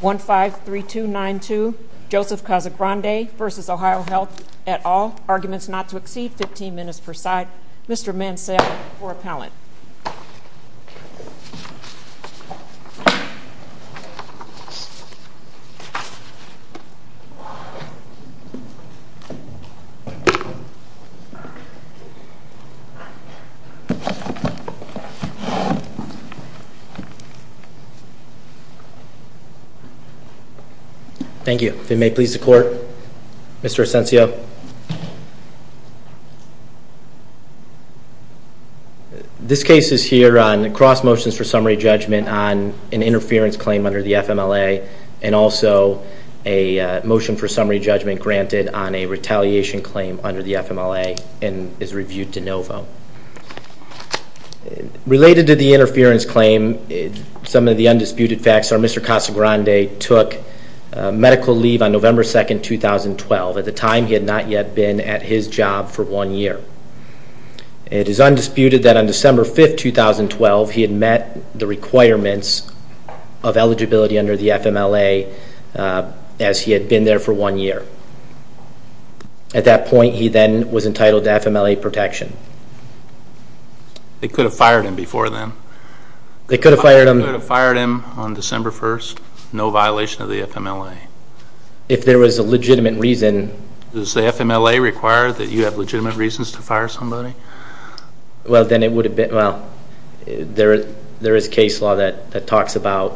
153292 Joseph Casagrande v. OhioHealth at all. Arguments not to exceed 15 minutes per side. Mr. Mansell for appellant. Thank you. If you may please the court. Mr. Ascensio. This case is here on cross motions for summary judgment on an interference claim under the FMLA. And also a motion for summary judgment granted on a retaliation claim under the FMLA and is reviewed de novo. Related to the interference claim some of the undisputed facts are Mr. Casagrande took medical leave on November 2nd 2012. At the time he had not yet been at his job for one year. It is undisputed that on December 5th 2012 he had met the requirements of eligibility under the FMLA as he had been there for one year. At that point he then was entitled to FMLA protection. They could have fired him before then. They could have fired him. They could have fired him on December 1st no violation of the FMLA. If there was a legitimate reason. Does the FMLA require that you have legitimate reasons to fire somebody? Well then it would have been well there is case law that talks about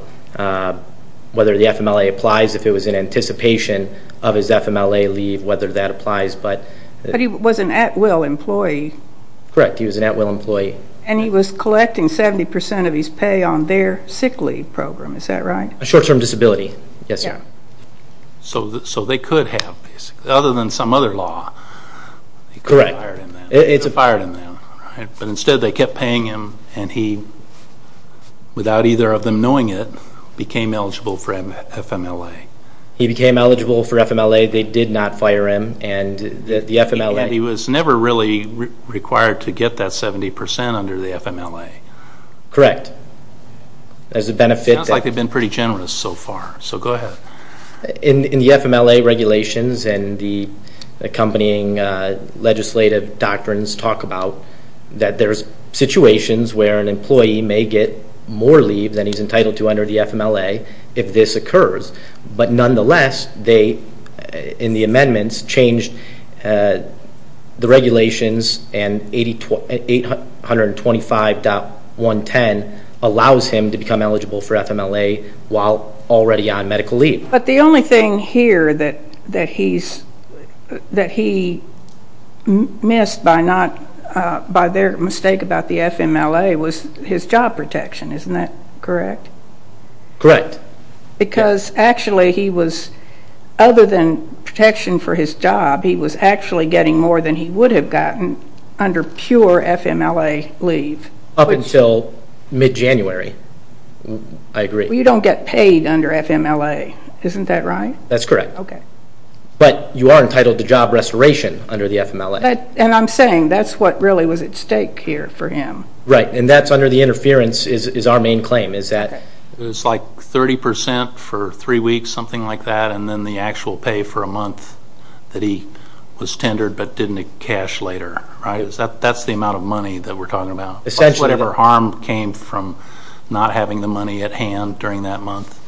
whether the FMLA applies if it was in anticipation of his FMLA leave. Whether that applies. But he was an at will employee. Correct he was an at will employee. And he was collecting 70% of his pay on their sick leave program. Is that right? A short term disability. Yes sir. So they could have other than some other law. Correct. But instead they kept paying him and he without either of them knowing it became eligible for FMLA. He became eligible for FMLA. They did not fire him. And he was never really required to get that 70% under the FMLA. Correct. Sounds like they have been pretty generous so far. So go ahead. In the FMLA regulations and the accompanying legislative doctrines talk about that there's situations where an employee may get more leave than he's entitled to under the FMLA if this occurs. But nonetheless they in the amendments changed the regulations and 825.110 allows him to become eligible for FMLA while already on medical leave. But the only thing here that he's that he missed by not by their mistake about the FMLA was his job protection. Isn't that correct? Correct. Because actually he was other than protection for his job he was actually getting more than he would have gotten under pure FMLA leave. Up until mid January. I agree. You don't get paid under FMLA. Isn't that right? That's correct. OK. But you are entitled to job restoration under the FMLA. And I'm saying that's what really was at stake here for him. Right. And that's under the interference is our main claim is that. It's like 30% for three weeks something like that and then the actual pay for a month that he was tendered but didn't cash later. Right. That's the amount of money that we're talking about. Essentially. Whatever harm came from not having the money at hand during that month.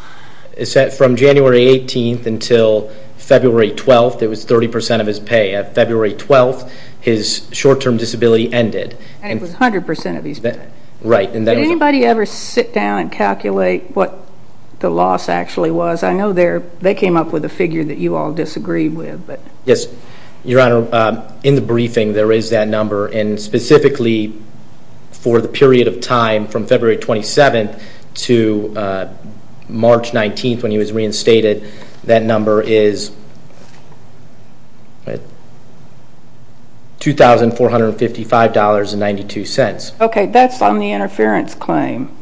From January 18th until February 12th it was 30% of his pay. At February 12th his short term disability ended. And it was 100% of his pay. Right. Did anybody ever sit down and calculate what the loss actually was? I know they came up with a figure that you all disagreed with. Yes. Your Honor in the briefing there is that number and specifically for the period of time from February 27th to March 19th when he was reinstated that number is $2,455.92. Okay. That's on the interference claim.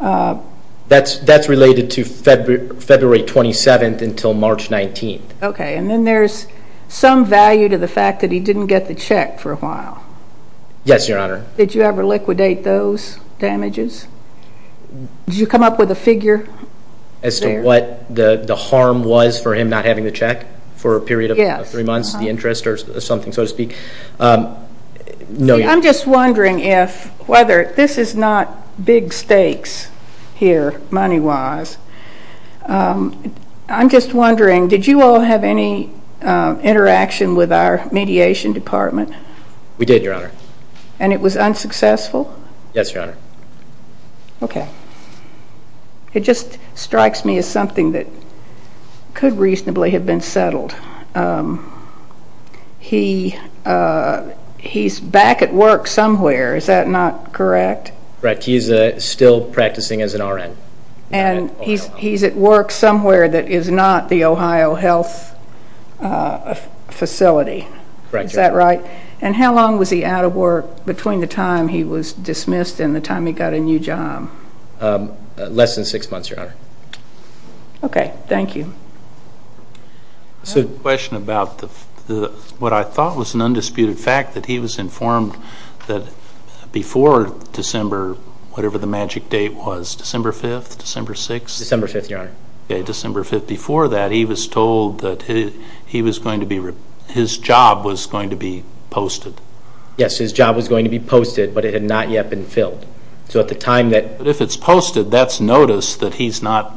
That's related to February 27th until March 19th. Okay. And then there's some value to the fact that he didn't get the check for a while. Yes. Your Honor. Did you ever liquidate those damages? Did you come up with a figure? As to what the harm was for him not having the check for a period of three months the interest or something so to speak. I'm just wondering if whether this is not big stakes here money wise. I'm just wondering did you all have any interaction with our mediation department? We did, Your Honor. And it was unsuccessful? Yes, Your Honor. Okay. It just he's back at work somewhere. Is that not correct? Correct. He's still practicing as an RN. And he's at work somewhere that is not the Ohio Health Facility. Correct. Is that right? And how long was he out of work between the time he was dismissed and the time he got a new job? Less than six months, Your Honor. Okay. Thank you. I have a question about what I thought was an undisputed fact that he was informed that before December, whatever the magic date was, December 5th, December 6th? December 5th, Your Honor. Okay. December 5th. Before that he was told that his job was going to be posted. Yes. His job was going to be posted but it had not yet been filled. So at the time that... But if it's posted, that's notice that he's not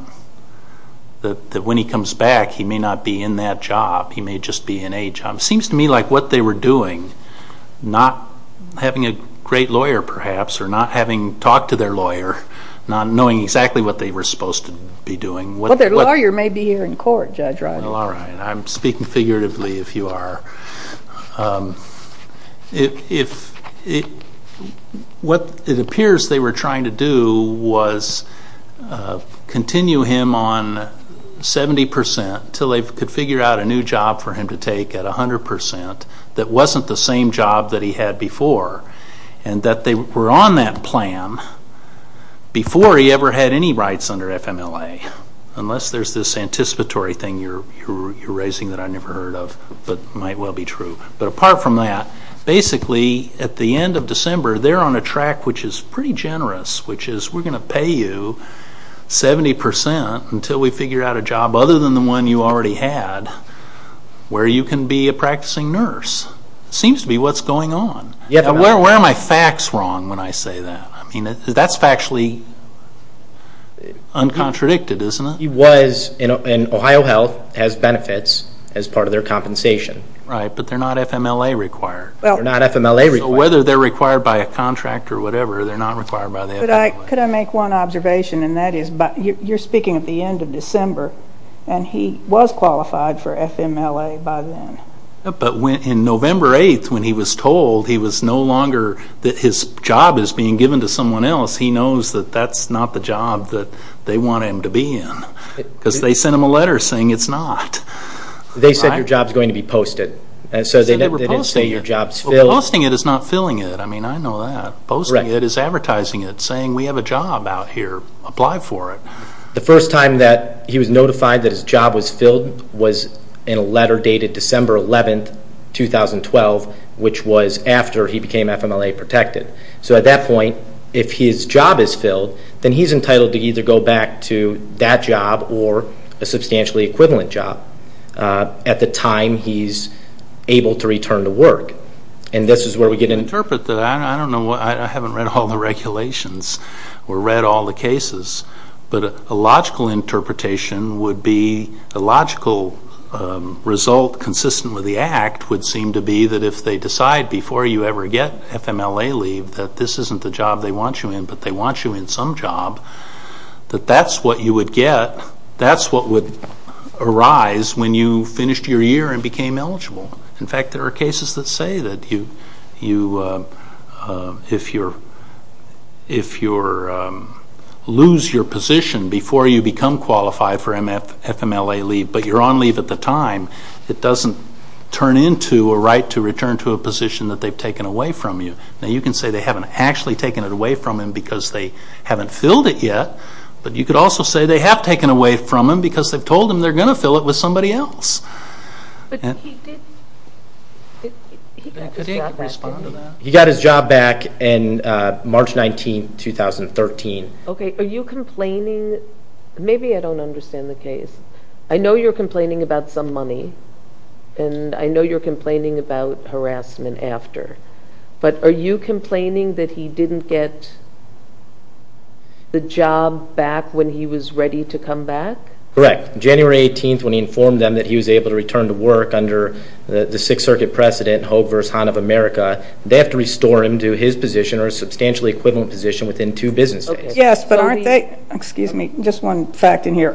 that when he comes back he may not be in that job. He may just be in a job. It seems to me like what they were doing, not having a great lawyer perhaps or not having talked to their lawyer, not knowing exactly what they were supposed to be doing. Well, their lawyer may be here in court, Judge Riley. Well, all right. I'm speaking figuratively if you are. What it appears they were trying to do was continue him on 70% until they could figure out a new job for him to take at 100% that wasn't the same job that he had before and that they were on that plan before he ever had any rights under FMLA unless there's this anticipatory thing you're raising that I've never heard of but might well be true. But apart from that, basically at the end of December they're on a track which is pretty generous which is we're going to pay you 70% until we figure out a job other than the one you already had where you can be a practicing nurse. It seems to be what's going on. Where are my facts wrong when I say that? I mean, that's factually uncontradicted, isn't it? He was in Ohio Health, has benefits as part of their compensation. Right, but they're not FMLA required. They're not FMLA required. So whether they're required by a contract or whatever, they're not required by the FMLA. Could I make one observation and that is you're speaking at the end of December and he was qualified for FMLA by then. But in November 8th when he was told he was no longer, that his job is being given to someone else, he knows that that's not the job that they want him to be in. Because they sent him a letter saying it's not. They said your job's going to be posted. So they didn't say your job's filled. Posting it is not filling it. I mean, I know that. Posting it is advertising it, saying we have a job out here. Apply for it. The first time that he was notified that his job was filled was in a letter dated December 11th, 2012, which was after he became FMLA protected. So at that point, if his job is filled, then he's entitled to either go back to that job or a substantially equivalent job at the time he's able to return to work. And this is where we get into... I haven't read all the regulations or read all the cases, but a logical interpretation would be, a logical result consistent with the Act would seem to be that if they decide before you ever get FMLA leave that this isn't the job they want you in, but they want you in some job, that that's what you would get, that's what would arise when you finished your year and became eligible. In fact, there are cases that say that if you lose your position before you become qualified for FMLA leave, but you're on leave at the time, it doesn't turn into a right to return to a position that they've taken away from you. Now, you can say they haven't actually taken it away from him because they haven't filled it yet, but you could also say they have taken it away from him because they've told him they're going to fill it with somebody else. He got his job back on March 19, 2013. Are you complaining, maybe I don't understand the case, I know you're complaining about some money, and I know you're complaining about harassment after, but are you complaining that he didn't get the job back when he was ready to come back? Correct. January 18, when he informed them that he was able to return to work under the Sixth Circuit precedent, Hogue v. Hahn of America, they have to restore him to his position or a substantially equivalent position within two business days. Yes, but aren't they, excuse me, just one fact in here,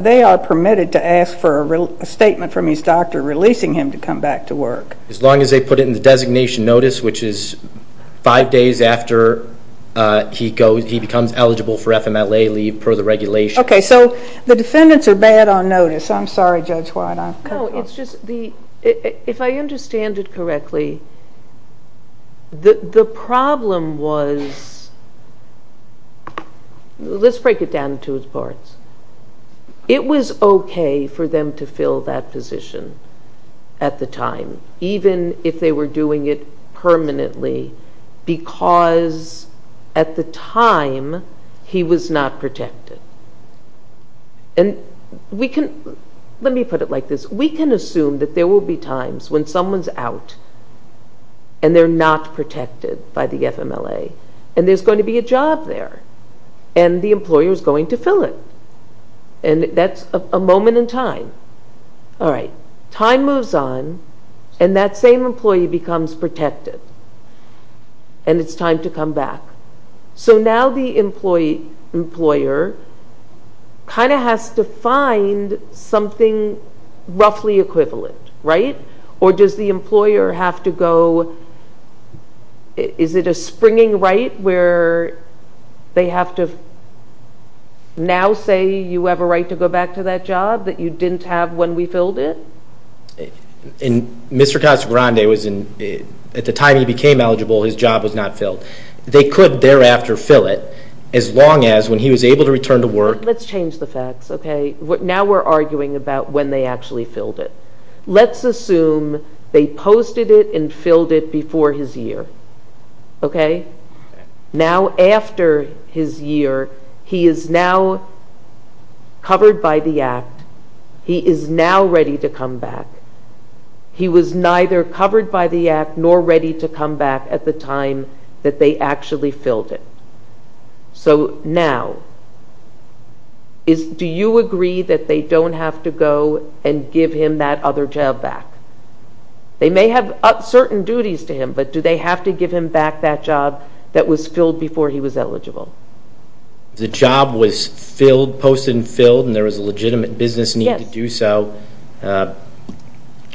they are permitted to ask for a statement from his doctor releasing him to come back to work. As long as they put it in the designation notice, which is five days after he becomes eligible for FMLA leave per the regulation. Okay, so the defendants are bad on notice. I'm sorry, Judge White. No, it's just, if I understand it correctly, the problem was, let's break it down into its parts. It was okay for them to fill that position at the time, even if they were doing it permanently because at the time he was not protected. And we can, let me put it like this, we can assume that there will be times when someone's out and they're not protected by the FMLA and there's going to be a job there and the employer is going to fill it. And that's a moment in time. Alright, time moves on and that same employee becomes protected and it's time to come back. So now the employer kind of has to find something roughly equivalent, right? Or does the employer have to go, is it a springing right where they have to now say you have a right to go back to that job that you didn't have when we filled it? Mr. Casagrande, at the time he became eligible, his job was not filled. They could thereafter fill it as long as when he was able to return to work. Let's change the facts. Now we're arguing about when they actually filled it. Let's assume they posted it and filled it before his year. Now after his year, he is now covered by the act. He is now ready to come back. He was neither covered by the act nor ready to come back at the time that they actually filled it. So now, do you agree that they don't have to go and give him that other job back? They may have certain duties to him, but do they have to give him back that job that was filled before he was eligible? The job was posted and filled and there was a legitimate business need to do so.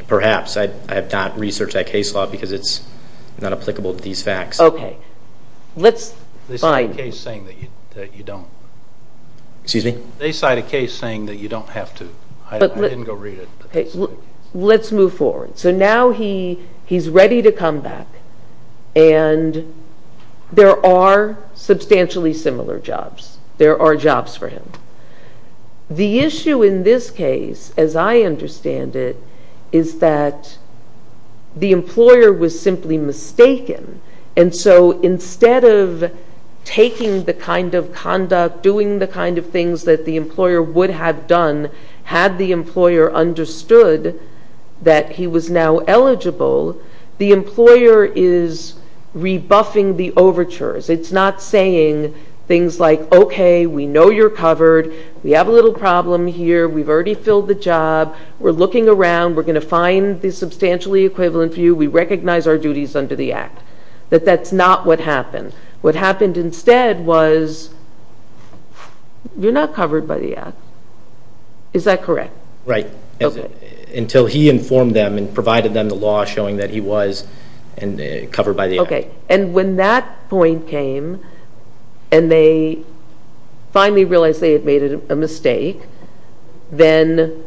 Perhaps. I have not researched that case law because it's not applicable to these facts. They cite a case saying that you don't have to. Let's move forward. So now he's ready to come back and there are substantially similar jobs. There are jobs for him. The issue in this case, as I understand it, is that the employer was simply mistaken. And so instead of taking the kind of conduct, doing the kind of things that the employer would have done, had the employer understood that he was now eligible, the employer is okay, we know you're covered, we have a little problem here, we've already filled the job, we're looking around, we're going to find the substantially equivalent for you, we recognize our duties under the act, that that's not what happened. What happened instead was you're not covered by the act. Is that correct? Right. Until he informed them and provided them the law showing that he was covered by the act. Okay. And when that point came and they finally realized they had made a mistake, then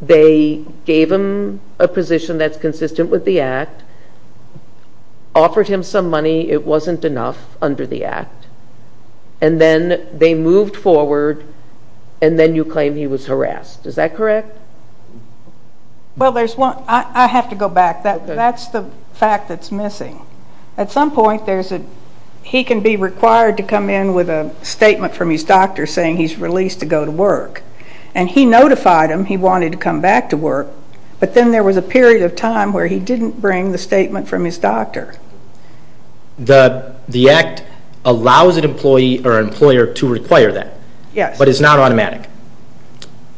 they gave him a position that's consistent with the act, offered him some money, it wasn't enough under the act, and then they moved forward and then you claim he was harassed. Is that correct? Well, there's one, I have to go back, that's the fact that's missing. At some point there's a, he can be required to come in with a statement from his doctor saying he's released to go to work. And he notified him he wanted to come back to work, but then there was a period of time where he didn't bring the statement from his doctor. The act allows an automatic.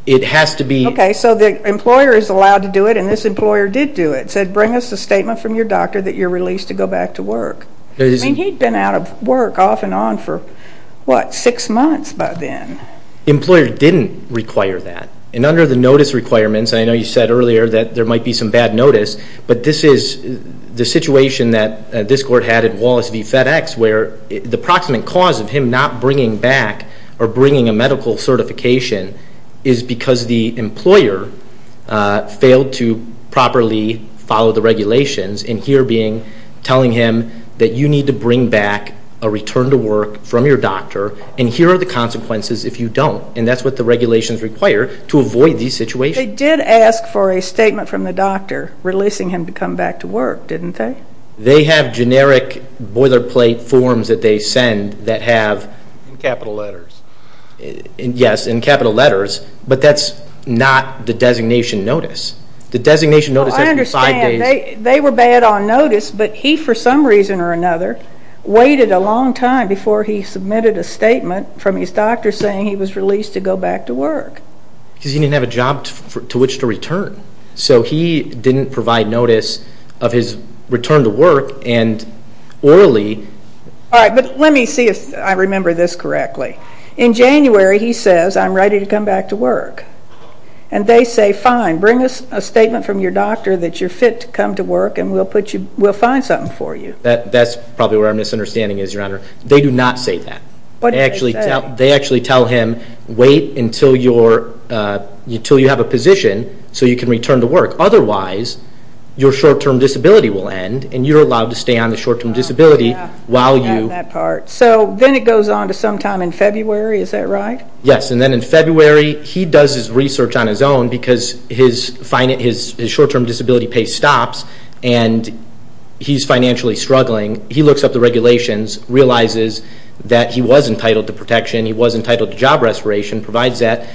It has to be. Okay, so the employer is allowed to do it and this employer did do it, said bring us a statement from your doctor that you're released to go back to work. He'd been out of work off and on for what, six months by then. Employer didn't require that. And under the notice requirements, I know you said earlier that there might be some bad notice, but this is the situation that this court had at Wallace v. FedEx where the proximate cause of him not bringing back or bringing a medical certification is because the employer failed to properly follow the regulations and here being telling him that you need to bring back a return to work from your doctor and here are the consequences if you don't. And that's what the regulations require to avoid these situations. They did ask for a statement from the doctor releasing him to come back to work, didn't they? They have generic boilerplate forms that they send that have. In capital letters. Yes, in capital letters, but that's not the designation notice. The designation notice has five days. I understand. They were bad on notice, but he for some reason or another waited a long time before he submitted a statement from his doctor saying he was released to go back to work. Because he didn't have a job to which to return. So he didn't provide notice of his return to work and orally. All right, but let me see if I remember this correctly. In January he says I'm ready to come back to work. And they say fine, bring us a statement from your doctor that you're fit to come to work and we'll find something for you. That's probably where our misunderstanding is Your Honor. They do not say that. They actually tell him wait until you have a position so you can return to work. Otherwise your short term disability will end and you're allowed to stay on the short term disability while you So then it goes on to sometime in February, is that right? Yes, and then in February he does his research on his own because his short term disability pays stops and he's financially struggling. He looks up the regulations realizes that he was entitled to protection, he was entitled to job restoration, provides that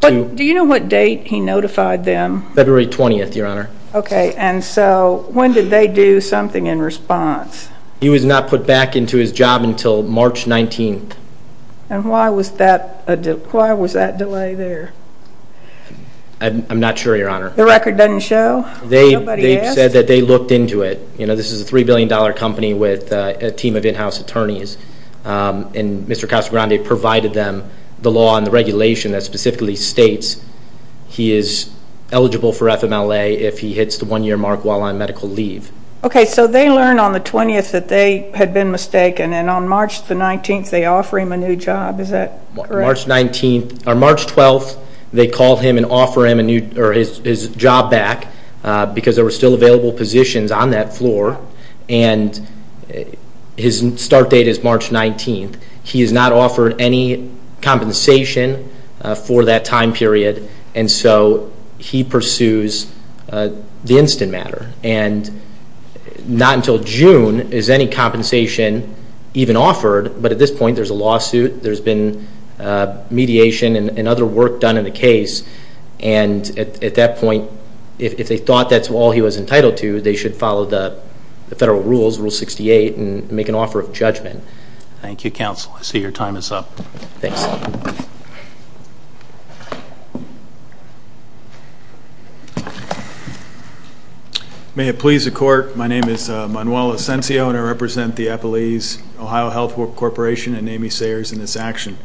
But do you know what date he notified them? February 20th, Your Honor. Okay, and so when did they do something in response? He was not put back into his job until March 19th. And why was that delay there? I'm not sure, Your Honor. The record doesn't show? They said that they looked into it. This is a $3 billion company with a team of in-house attorneys and Mr. Casagrande provided them the law and the regulation that specifically states he is eligible for FMLA if he hits the one year mark while on medical leave. Okay, so they learned on the 20th that they had been mistaken and on March 19th they offer him a new job, is that correct? March 12th they called him and offer him his job back because there were still available positions on that floor and his start date is March 19th. He is not offered any compensation for that time period and so he pursues the compensation that he was even offered, but at this point there's a lawsuit, there's been mediation and other work done in the case and at that point if they thought that's all he was entitled to, they should follow the federal rules, Rule 68 and make an offer of judgment. Thank you, Counsel. I see your time is up. Thanks. May it please the court, my name is Manuel Asencio and I represent the Epeliz Ohio Health Corporation and Amy Sayers in this action.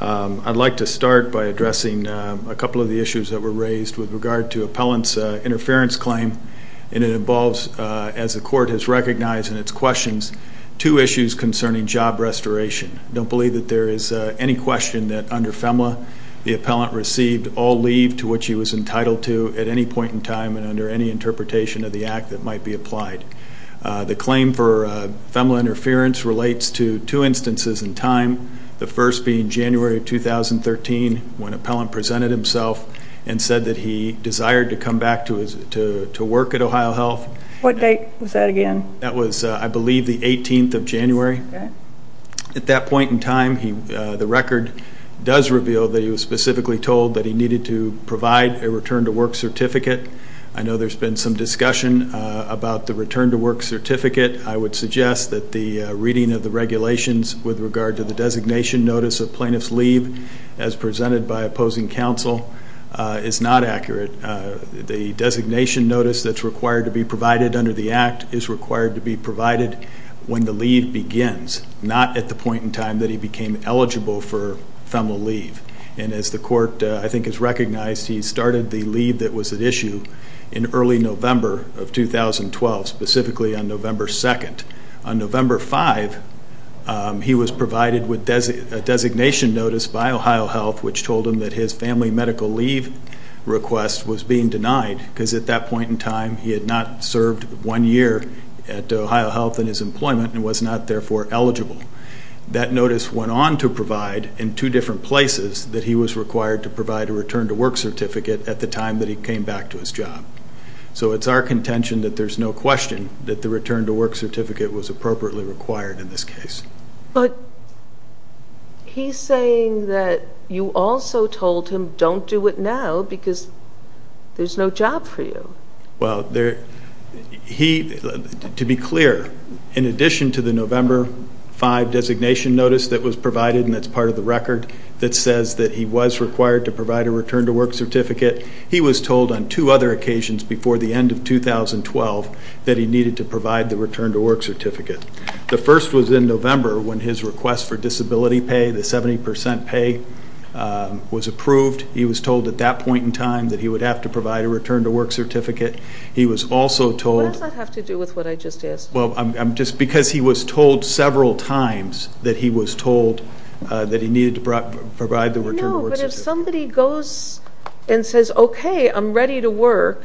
I'd like to start by addressing a couple of the issues that were raised with regard to appellant's interference claim and it involves, as the court has recognized in its questions, two issues concerning job restoration. I don't believe that there is any question that under FEMLA the appellant received all leave to which he was entitled to at any point in time and under any interpretation of the act that might be applied. The claim for FEMLA interference relates to two instances in time, the first being January of 2013 when appellant presented himself and said that he desired to come back to work at Ohio Health. What date was that again? That was I believe the 18th of January. At that point in time the record does reveal that he was specifically told that he needed to provide a return to work certificate. I know there's been some discussion about the return to work certificate. I would suggest that the reading of the regulations with regard to the designation notice of plaintiff's leave as presented by opposing counsel is not accurate. The designation notice that's required to be provided under the act is required to be provided when the leave begins, not at the point in time that he became eligible for FEMLA leave. And as the court I think has recognized, he started the leave that was at issue in early November of 2012, specifically on November 2nd. On November 5th he was provided with a designation notice by Ohio Health which told him that his family medical leave request was being denied because at that point in time he had not served one year at Ohio Health in his employment and was not therefore eligible. That notice went on to provide in two different places that he was required to provide a return to work certificate at the time that he came back to his job. So it's our contention that there's no question that the return to work certificate was appropriately required in this case. But he's saying that you also told him don't do it now because there's no job for you. Well, to be clear, in addition to the November 5 designation notice that was provided and that's part of the record that says that he was required to provide a return to work certificate, he was told on two other occasions before the end of 2012 that he needed to provide the return to work certificate. The first was in November when his request for disability pay, the 70% pay, was approved. He was told at that point in time that he would have to provide a return to work certificate. He was also told... What does that have to do with what I just asked? Well, just because he was told several times that he was told that he needed to provide the return to work certificate. No, but if somebody goes and says, okay, I'm ready to work.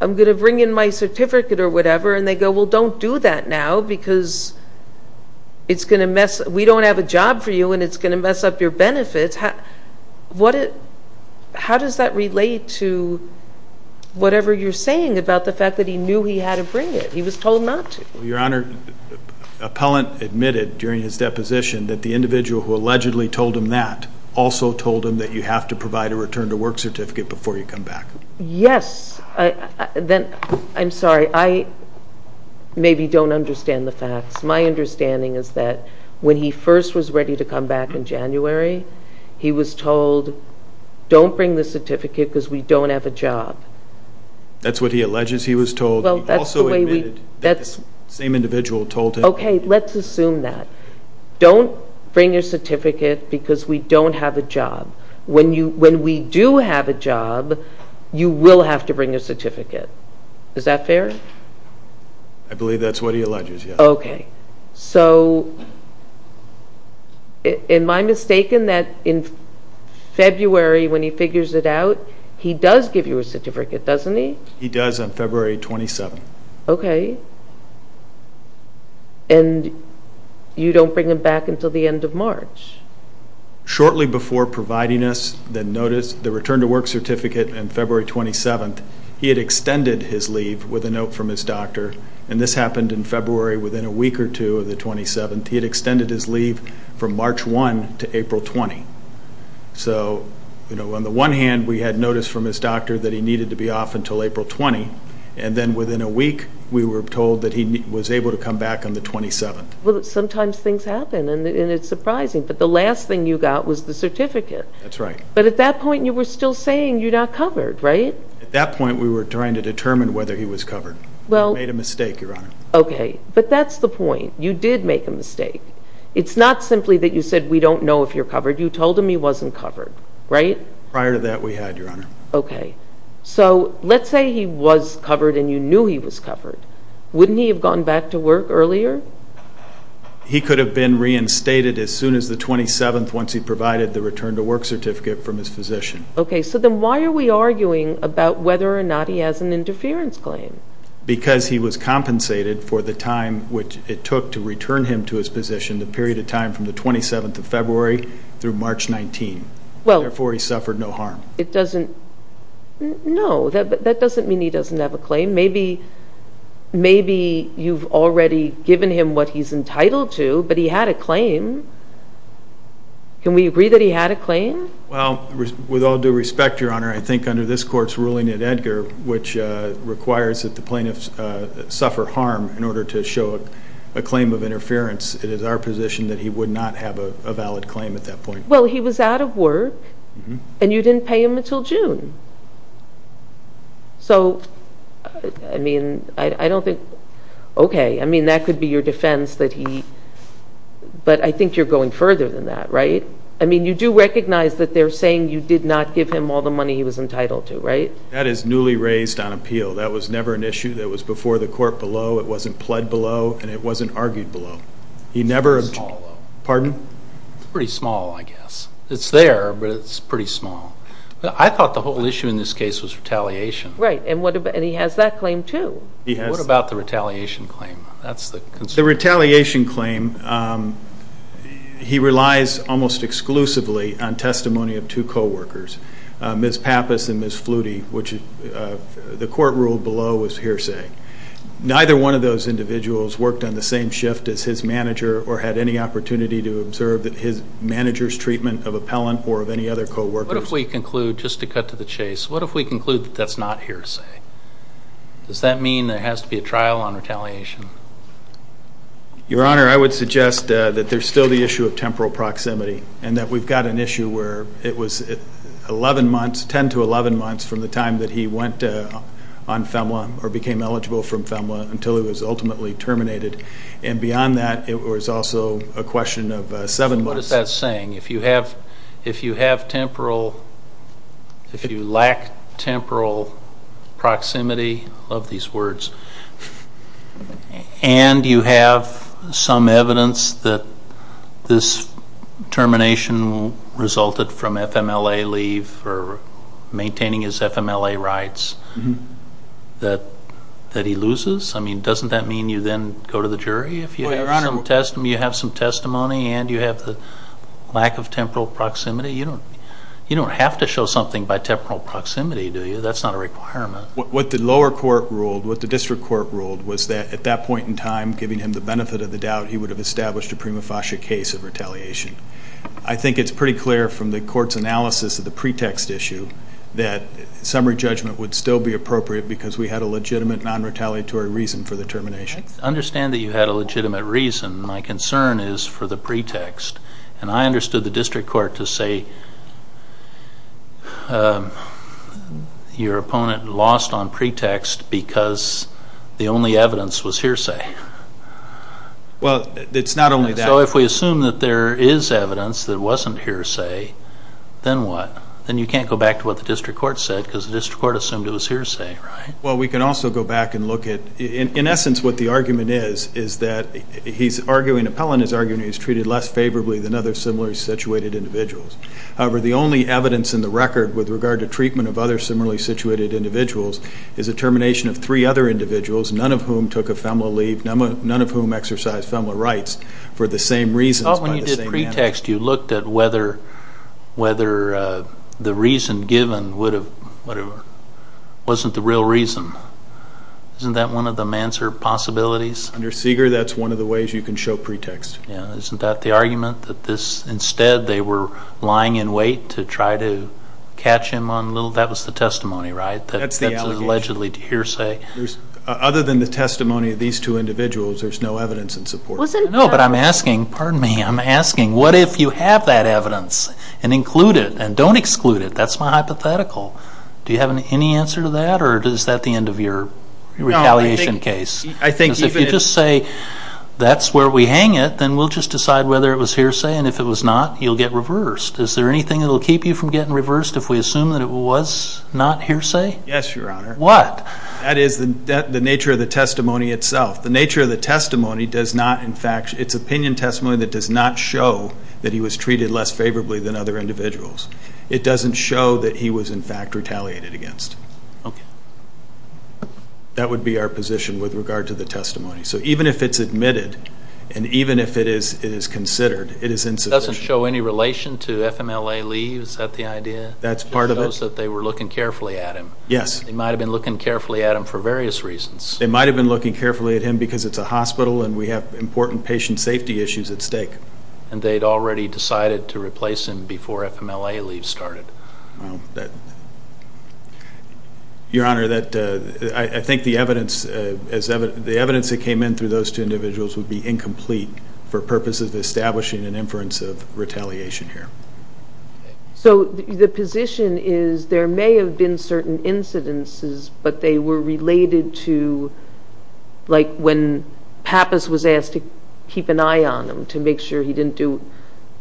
I'm going to bring in my certificate or whatever. And they go, well, don't do that now because we don't have a job for you and it's going to mess up your benefits. How does that relate to whatever you're saying about the fact that he knew he had to bring it? He was told not to. Your Honor, Appellant admitted during his deposition that the individual who allegedly told him that also told him that you have to provide a return to work certificate before you come back. Yes. Then, I'm sorry, I maybe don't understand the facts. My understanding is that when he first was ready to come back in January, he was told, don't bring the certificate because we don't have a job. That's what he alleges he was told. He also admitted that the same individual told him... Okay, let's assume that. Don't bring your certificate because we don't have a job. When we do have a job, you will have to bring your certificate. Is that fair? I believe that's what he alleges, yes. Okay. So, am I mistaken that in February when he figures it out, he does give you a certificate, doesn't he? He does on February 27th. Okay. And you don't bring him back until the end of March? Shortly before providing us the return to work certificate on February 27th, he had extended his leave with a note from his doctor, and this happened in February within a week or two of the 27th. He had extended his leave from March 1 to April 20. So, on the one hand, we had notice from his doctor that he needed to be off until April 20, and then within a week, we were told that he was able to come back on the 27th. Well, sometimes things happen, and it's surprising, but the last thing you got was the certificate. That's right. But at that point, you were still saying you're not covered, right? At that point, we were trying to determine whether he was covered. We made a mistake, Your Honor. Okay. But that's the point. You did make a mistake. It's not simply that you said we don't know if you're covered. You told him he wasn't covered, right? Prior to that, we had, Your Honor. Okay. So, let's say he was covered and you knew he was covered. Wouldn't he have gone back to work earlier? He could have been reinstated as soon as the 27th once he provided the return-to-work certificate from his physician. Okay. So, then why are we arguing about whether or not he has an interference claim? Because he was compensated for the time which it took to return him to his position, the period of time from the 27th of February through March 19. Therefore, he suffered no harm. It doesn't... No. That doesn't mean he doesn't have a claim. Maybe you've already given him what he's entitled to, but he had a claim. Can we agree that he had a claim? Well, with all due respect, Your Honor, I think under this Court's ruling at Edgar, which requires that the plaintiffs suffer harm in order to show a claim of interference, it is our position that he would not have a valid claim at that point. Well, he was out of work and you didn't pay him until June. So, I mean, I don't think... Okay. I mean, that could be your defense that he... But I think you're going further than that, right? I mean, you do recognize that they're saying you did not give him all the money he was entitled to, right? That is newly raised on appeal. That was never an issue that was before the Court below. Yes. It's there, but it's pretty small. I thought the whole issue in this case was retaliation. Right. And he has that claim, too. What about the retaliation claim? That's the concern. The retaliation claim, he relies almost exclusively on testimony of two coworkers, Ms. Pappas and Ms. Flutie, which the Court ruled below was hearsay. Neither one of those individuals worked on the same shift as his manager or had any opportunity to observe his manager's treatment of appellant or of any other coworkers. What if we conclude, just to cut to the chase, what if we conclude that that's not hearsay? Does that mean there has to be a trial on retaliation? Your Honor, I would suggest that there's still the issue of temporal proximity and that we've got an issue where it was 11 months, 10 to 11 months from the time that he went on FEMA or became eligible from FEMA until he was ultimately terminated. And beyond that, it was also a question of 7 months. What is that saying? If you have temporal, if you lack temporal proximity, I love these words, and you have some evidence that this termination resulted from FMLA leave for maintaining his FMLA rights, that he loses? I mean, doesn't that mean you then go to the jury if you have some testimony and you have the lack of temporal proximity? You don't have to show something by temporal proximity, do you? That's not a requirement. What the district court ruled was that at that point in time, giving him the benefit of the doubt, he would have established a prima facie case of retaliation. I think it's pretty clear from the court's analysis of the pretext issue that summary judgment would still be appropriate because we had a legitimate non-retaliatory reason for the termination. I understand that you had a legitimate reason. My concern is for the pretext. And I understood the district court to say your opponent lost on pretext because the only evidence was hearsay. Well, it's not only that. So if we assume that there is evidence that wasn't hearsay, then what? Then you can't go back to what the district court said because the district court assumed it was hearsay, right? Well, we can also go back and look at, in essence, what the argument is, is that he's arguing, Appellant is arguing that he's treated less favorably than other similarly situated individuals. However, the only evidence in the record with regard to treatment of other similarly situated individuals is a termination of three other individuals, none of whom took a FMLA leave, none of whom exercised FMLA rights for the same reasons. Oh, when you did pretext, you looked at whether the reason given would have, whatever, wasn't the real reason. Isn't that one of the Manser possibilities? Under Seeger, that's one of the ways you can show pretext. Yeah, isn't that the argument, that this, instead they were lying in wait to try to catch him on little, that was the testimony, right? That's the allegation. Other than the testimony of these two individuals, there's no evidence in support. No, but I'm asking, pardon me, I'm asking, what if you have that evidence and include it and don't exclude it? That's my hypothetical. Do you have any answer to that or is that the end of your retaliation case? If you just say, that's where we hang it, then we'll just decide whether it was hearsay and if it was not, you'll get reversed. Is there anything that will keep you from getting reversed if we assume that it was not hearsay? Yes, Your Honor. What? That is the nature of the testimony itself. The nature of the testimony does not, in fact, it's opinion testimony that does not show that he was treated less favorably than other individuals. It doesn't show that he was, in fact, retaliated against. That would be our position with regard to the testimony. So even if it's admitted and even if it is considered, it is insufficient. It doesn't show any relation to FMLA leaves, is that the idea? That's part of it. It shows that they were looking carefully at him. Yes. They might have been looking carefully at him for various reasons. They might have been looking carefully at him because it's a hospital and we have important patient safety issues at stake. And they'd already decided to replace him before FMLA leaves started. Your Honor, I think the evidence that came in through those two individuals would be incomplete for purposes of establishing an inference of retaliation here. So the position is there may have been certain incidences, but they were related to like when Pappas was asked to keep an eye on him to make sure he didn't do,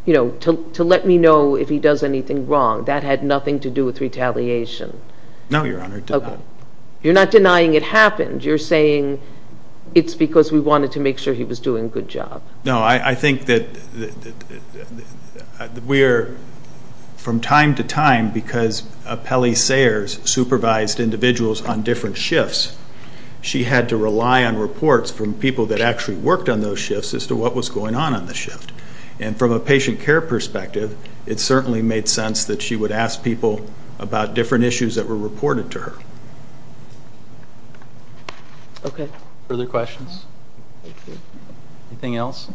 you know, to let me know if he does anything wrong. That had nothing to do with retaliation. No, Your Honor, it did not. Okay. You're not denying it happened. You're saying it's because we wanted to make sure he was doing a good job. No, I think that we're, from time to time, because Pelly Sayers supervised individuals on different shifts, she had to rely on reports from people that actually worked on those shifts as to what was going on on the shift. And from a patient care perspective, it certainly made sense that she would ask people about different issues that were reported to her. Okay. Further questions? Anything else?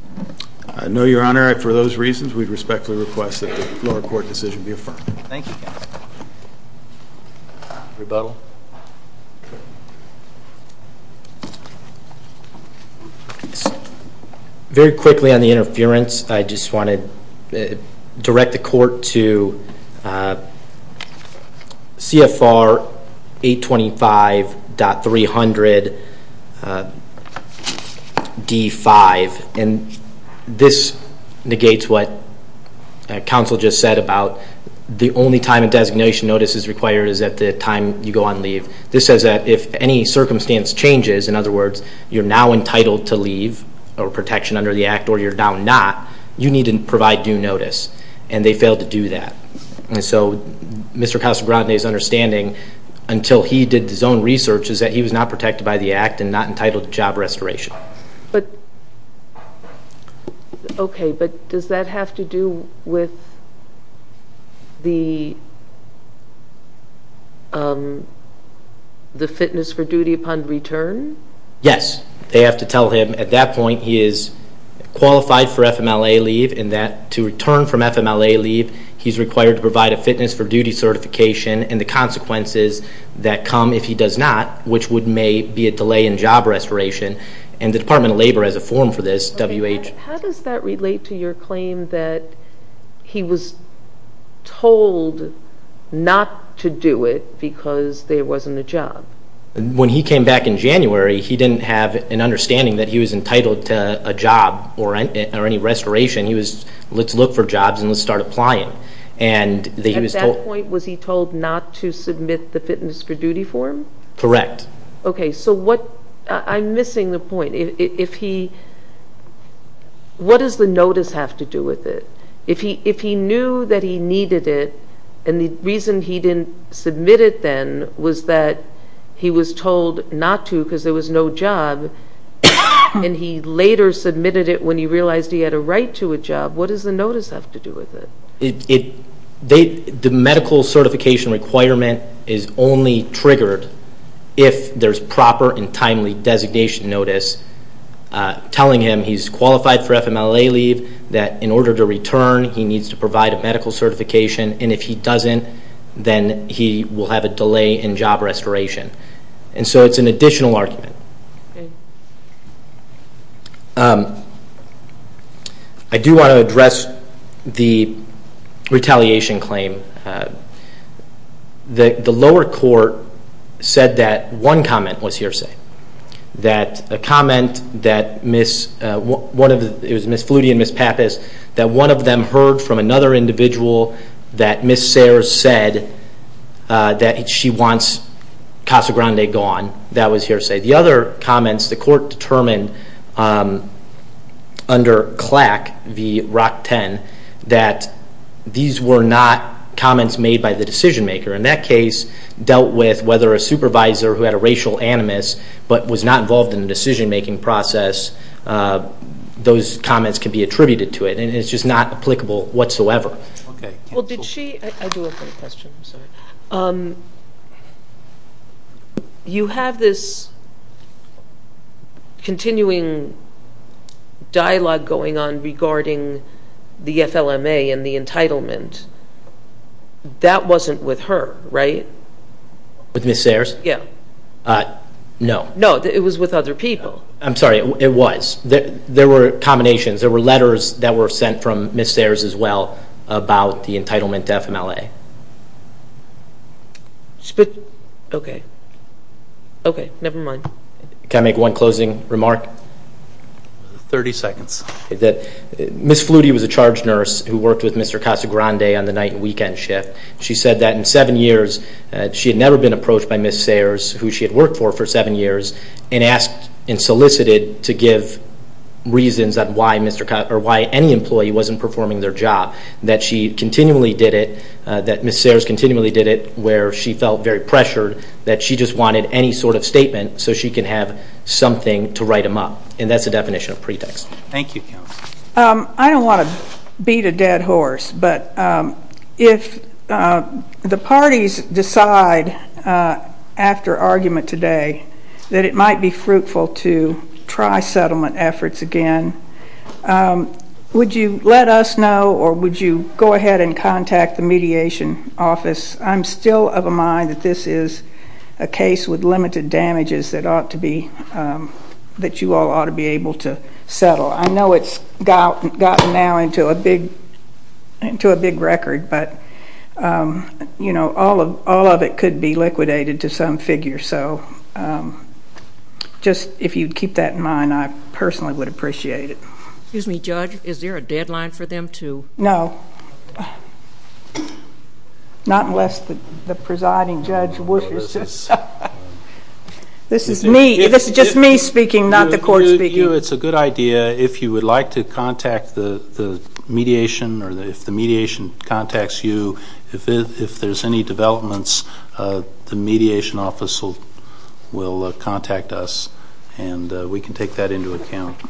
No, Your Honor. For those reasons, we respectfully request that the lower court decision be affirmed. Thank you, counsel. Rebuttal. Very quickly on the interference, I just want to direct the court to CFR 825.300 D5. And this negates what counsel just said about the only time a designation notice is required is at the time you go on leave. This says that if any circumstance changes, in other words, you're now entitled to leave or protection under the Act, or you're now not, you need to provide due notice. And they failed to do that. And so Mr. Casagrande's understanding, until he did his own research, is that he was not protected by the Act and not entitled to job restoration. But, okay, but does that have to do with the fitness for duty upon return? Yes. They have to tell him at that point he is qualified for FMLA leave and that to return from FMLA leave, he's required to provide a fitness for duty certification and the consequences that come if he does not, which would be a delay in job restoration. And the Department of Labor has a form for this, WH. How does that relate to your claim that he was told not to do it because there wasn't a job? When he came back in January, he didn't have an understanding that he was entitled to a job or any restoration. He was, let's look for jobs and let's start applying. At that point, was he told not to submit the fitness for duty form? Correct. Okay, so what, I'm missing the point. If he, what does the notice have to do with it? If he knew that he needed it and the reason he didn't submit it then was that he was told not to because there was no job and he later submitted it when he realized he had a right to a job, what does the notice have to do with it? The medical certification requirement is only triggered if there's proper and timely designation notice telling him he's qualified for FMLA leave, that in order to return, he needs to provide a medical certification, and if he doesn't, then he will have a delay in job restoration. And so it's an additional argument. Okay. I do want to address the retaliation claim. The lower court said that one comment was hearsay, that a comment that Ms., it was Ms. Flutie and Ms. Pappas, that one of them heard from another individual that Ms. Sayers said that she wants Casa Grande gone. That was hearsay. The other comments, the court determined under CLAC v. ROC-10, that these were not comments made by the decision maker. In that case, dealt with whether a supervisor who had a racial animus but was not involved in the decision making process, those comments can be attributed to it and it's just not applicable whatsoever. Okay. Well, did she, I do have a question, I'm sorry. You have this continuing dialogue going on regarding the FLMA and the entitlement. That wasn't with her, right? With Ms. Sayers? Yeah. No. No, it was with other people. I'm sorry, it was. There were combinations. There were letters that were sent from Ms. Sayers as well about the entitlement to FMLA. Okay. Okay, never mind. Can I make one closing remark? Thirty seconds. Ms. Flutie was a charge nurse who worked with Mr. Casa Grande on the night and weekend shift. She said that in seven years, she had never been approached by Ms. Sayers, who she had worked for for seven years, and asked and solicited to give reasons on why any employee wasn't performing their job, that she continually did it, that Ms. Sayers continually did it where she felt very pressured, that she just wanted any sort of statement so she can have something to write them up. And that's the definition of pretext. Thank you, Counsel. I don't want to beat a dead horse, but if the parties decide after argument today that it might be fruitful to try settlement efforts again, would you let us know or would you go ahead and contact the Mediation Office? I'm still of a mind that this is a case with limited damages that you all ought to be able to settle. I know it's gotten now into a big record, but all of it could be liquidated to some figure. So just if you'd keep that in mind, I personally would appreciate it. Excuse me, Judge, is there a deadline for them to? No. Not unless the presiding judge wishes. This is just me speaking, not the court speaking. It's a good idea if you would like to contact the mediation or if the mediation contacts you. If there's any developments, the Mediation Office will contact us and we can take that into account.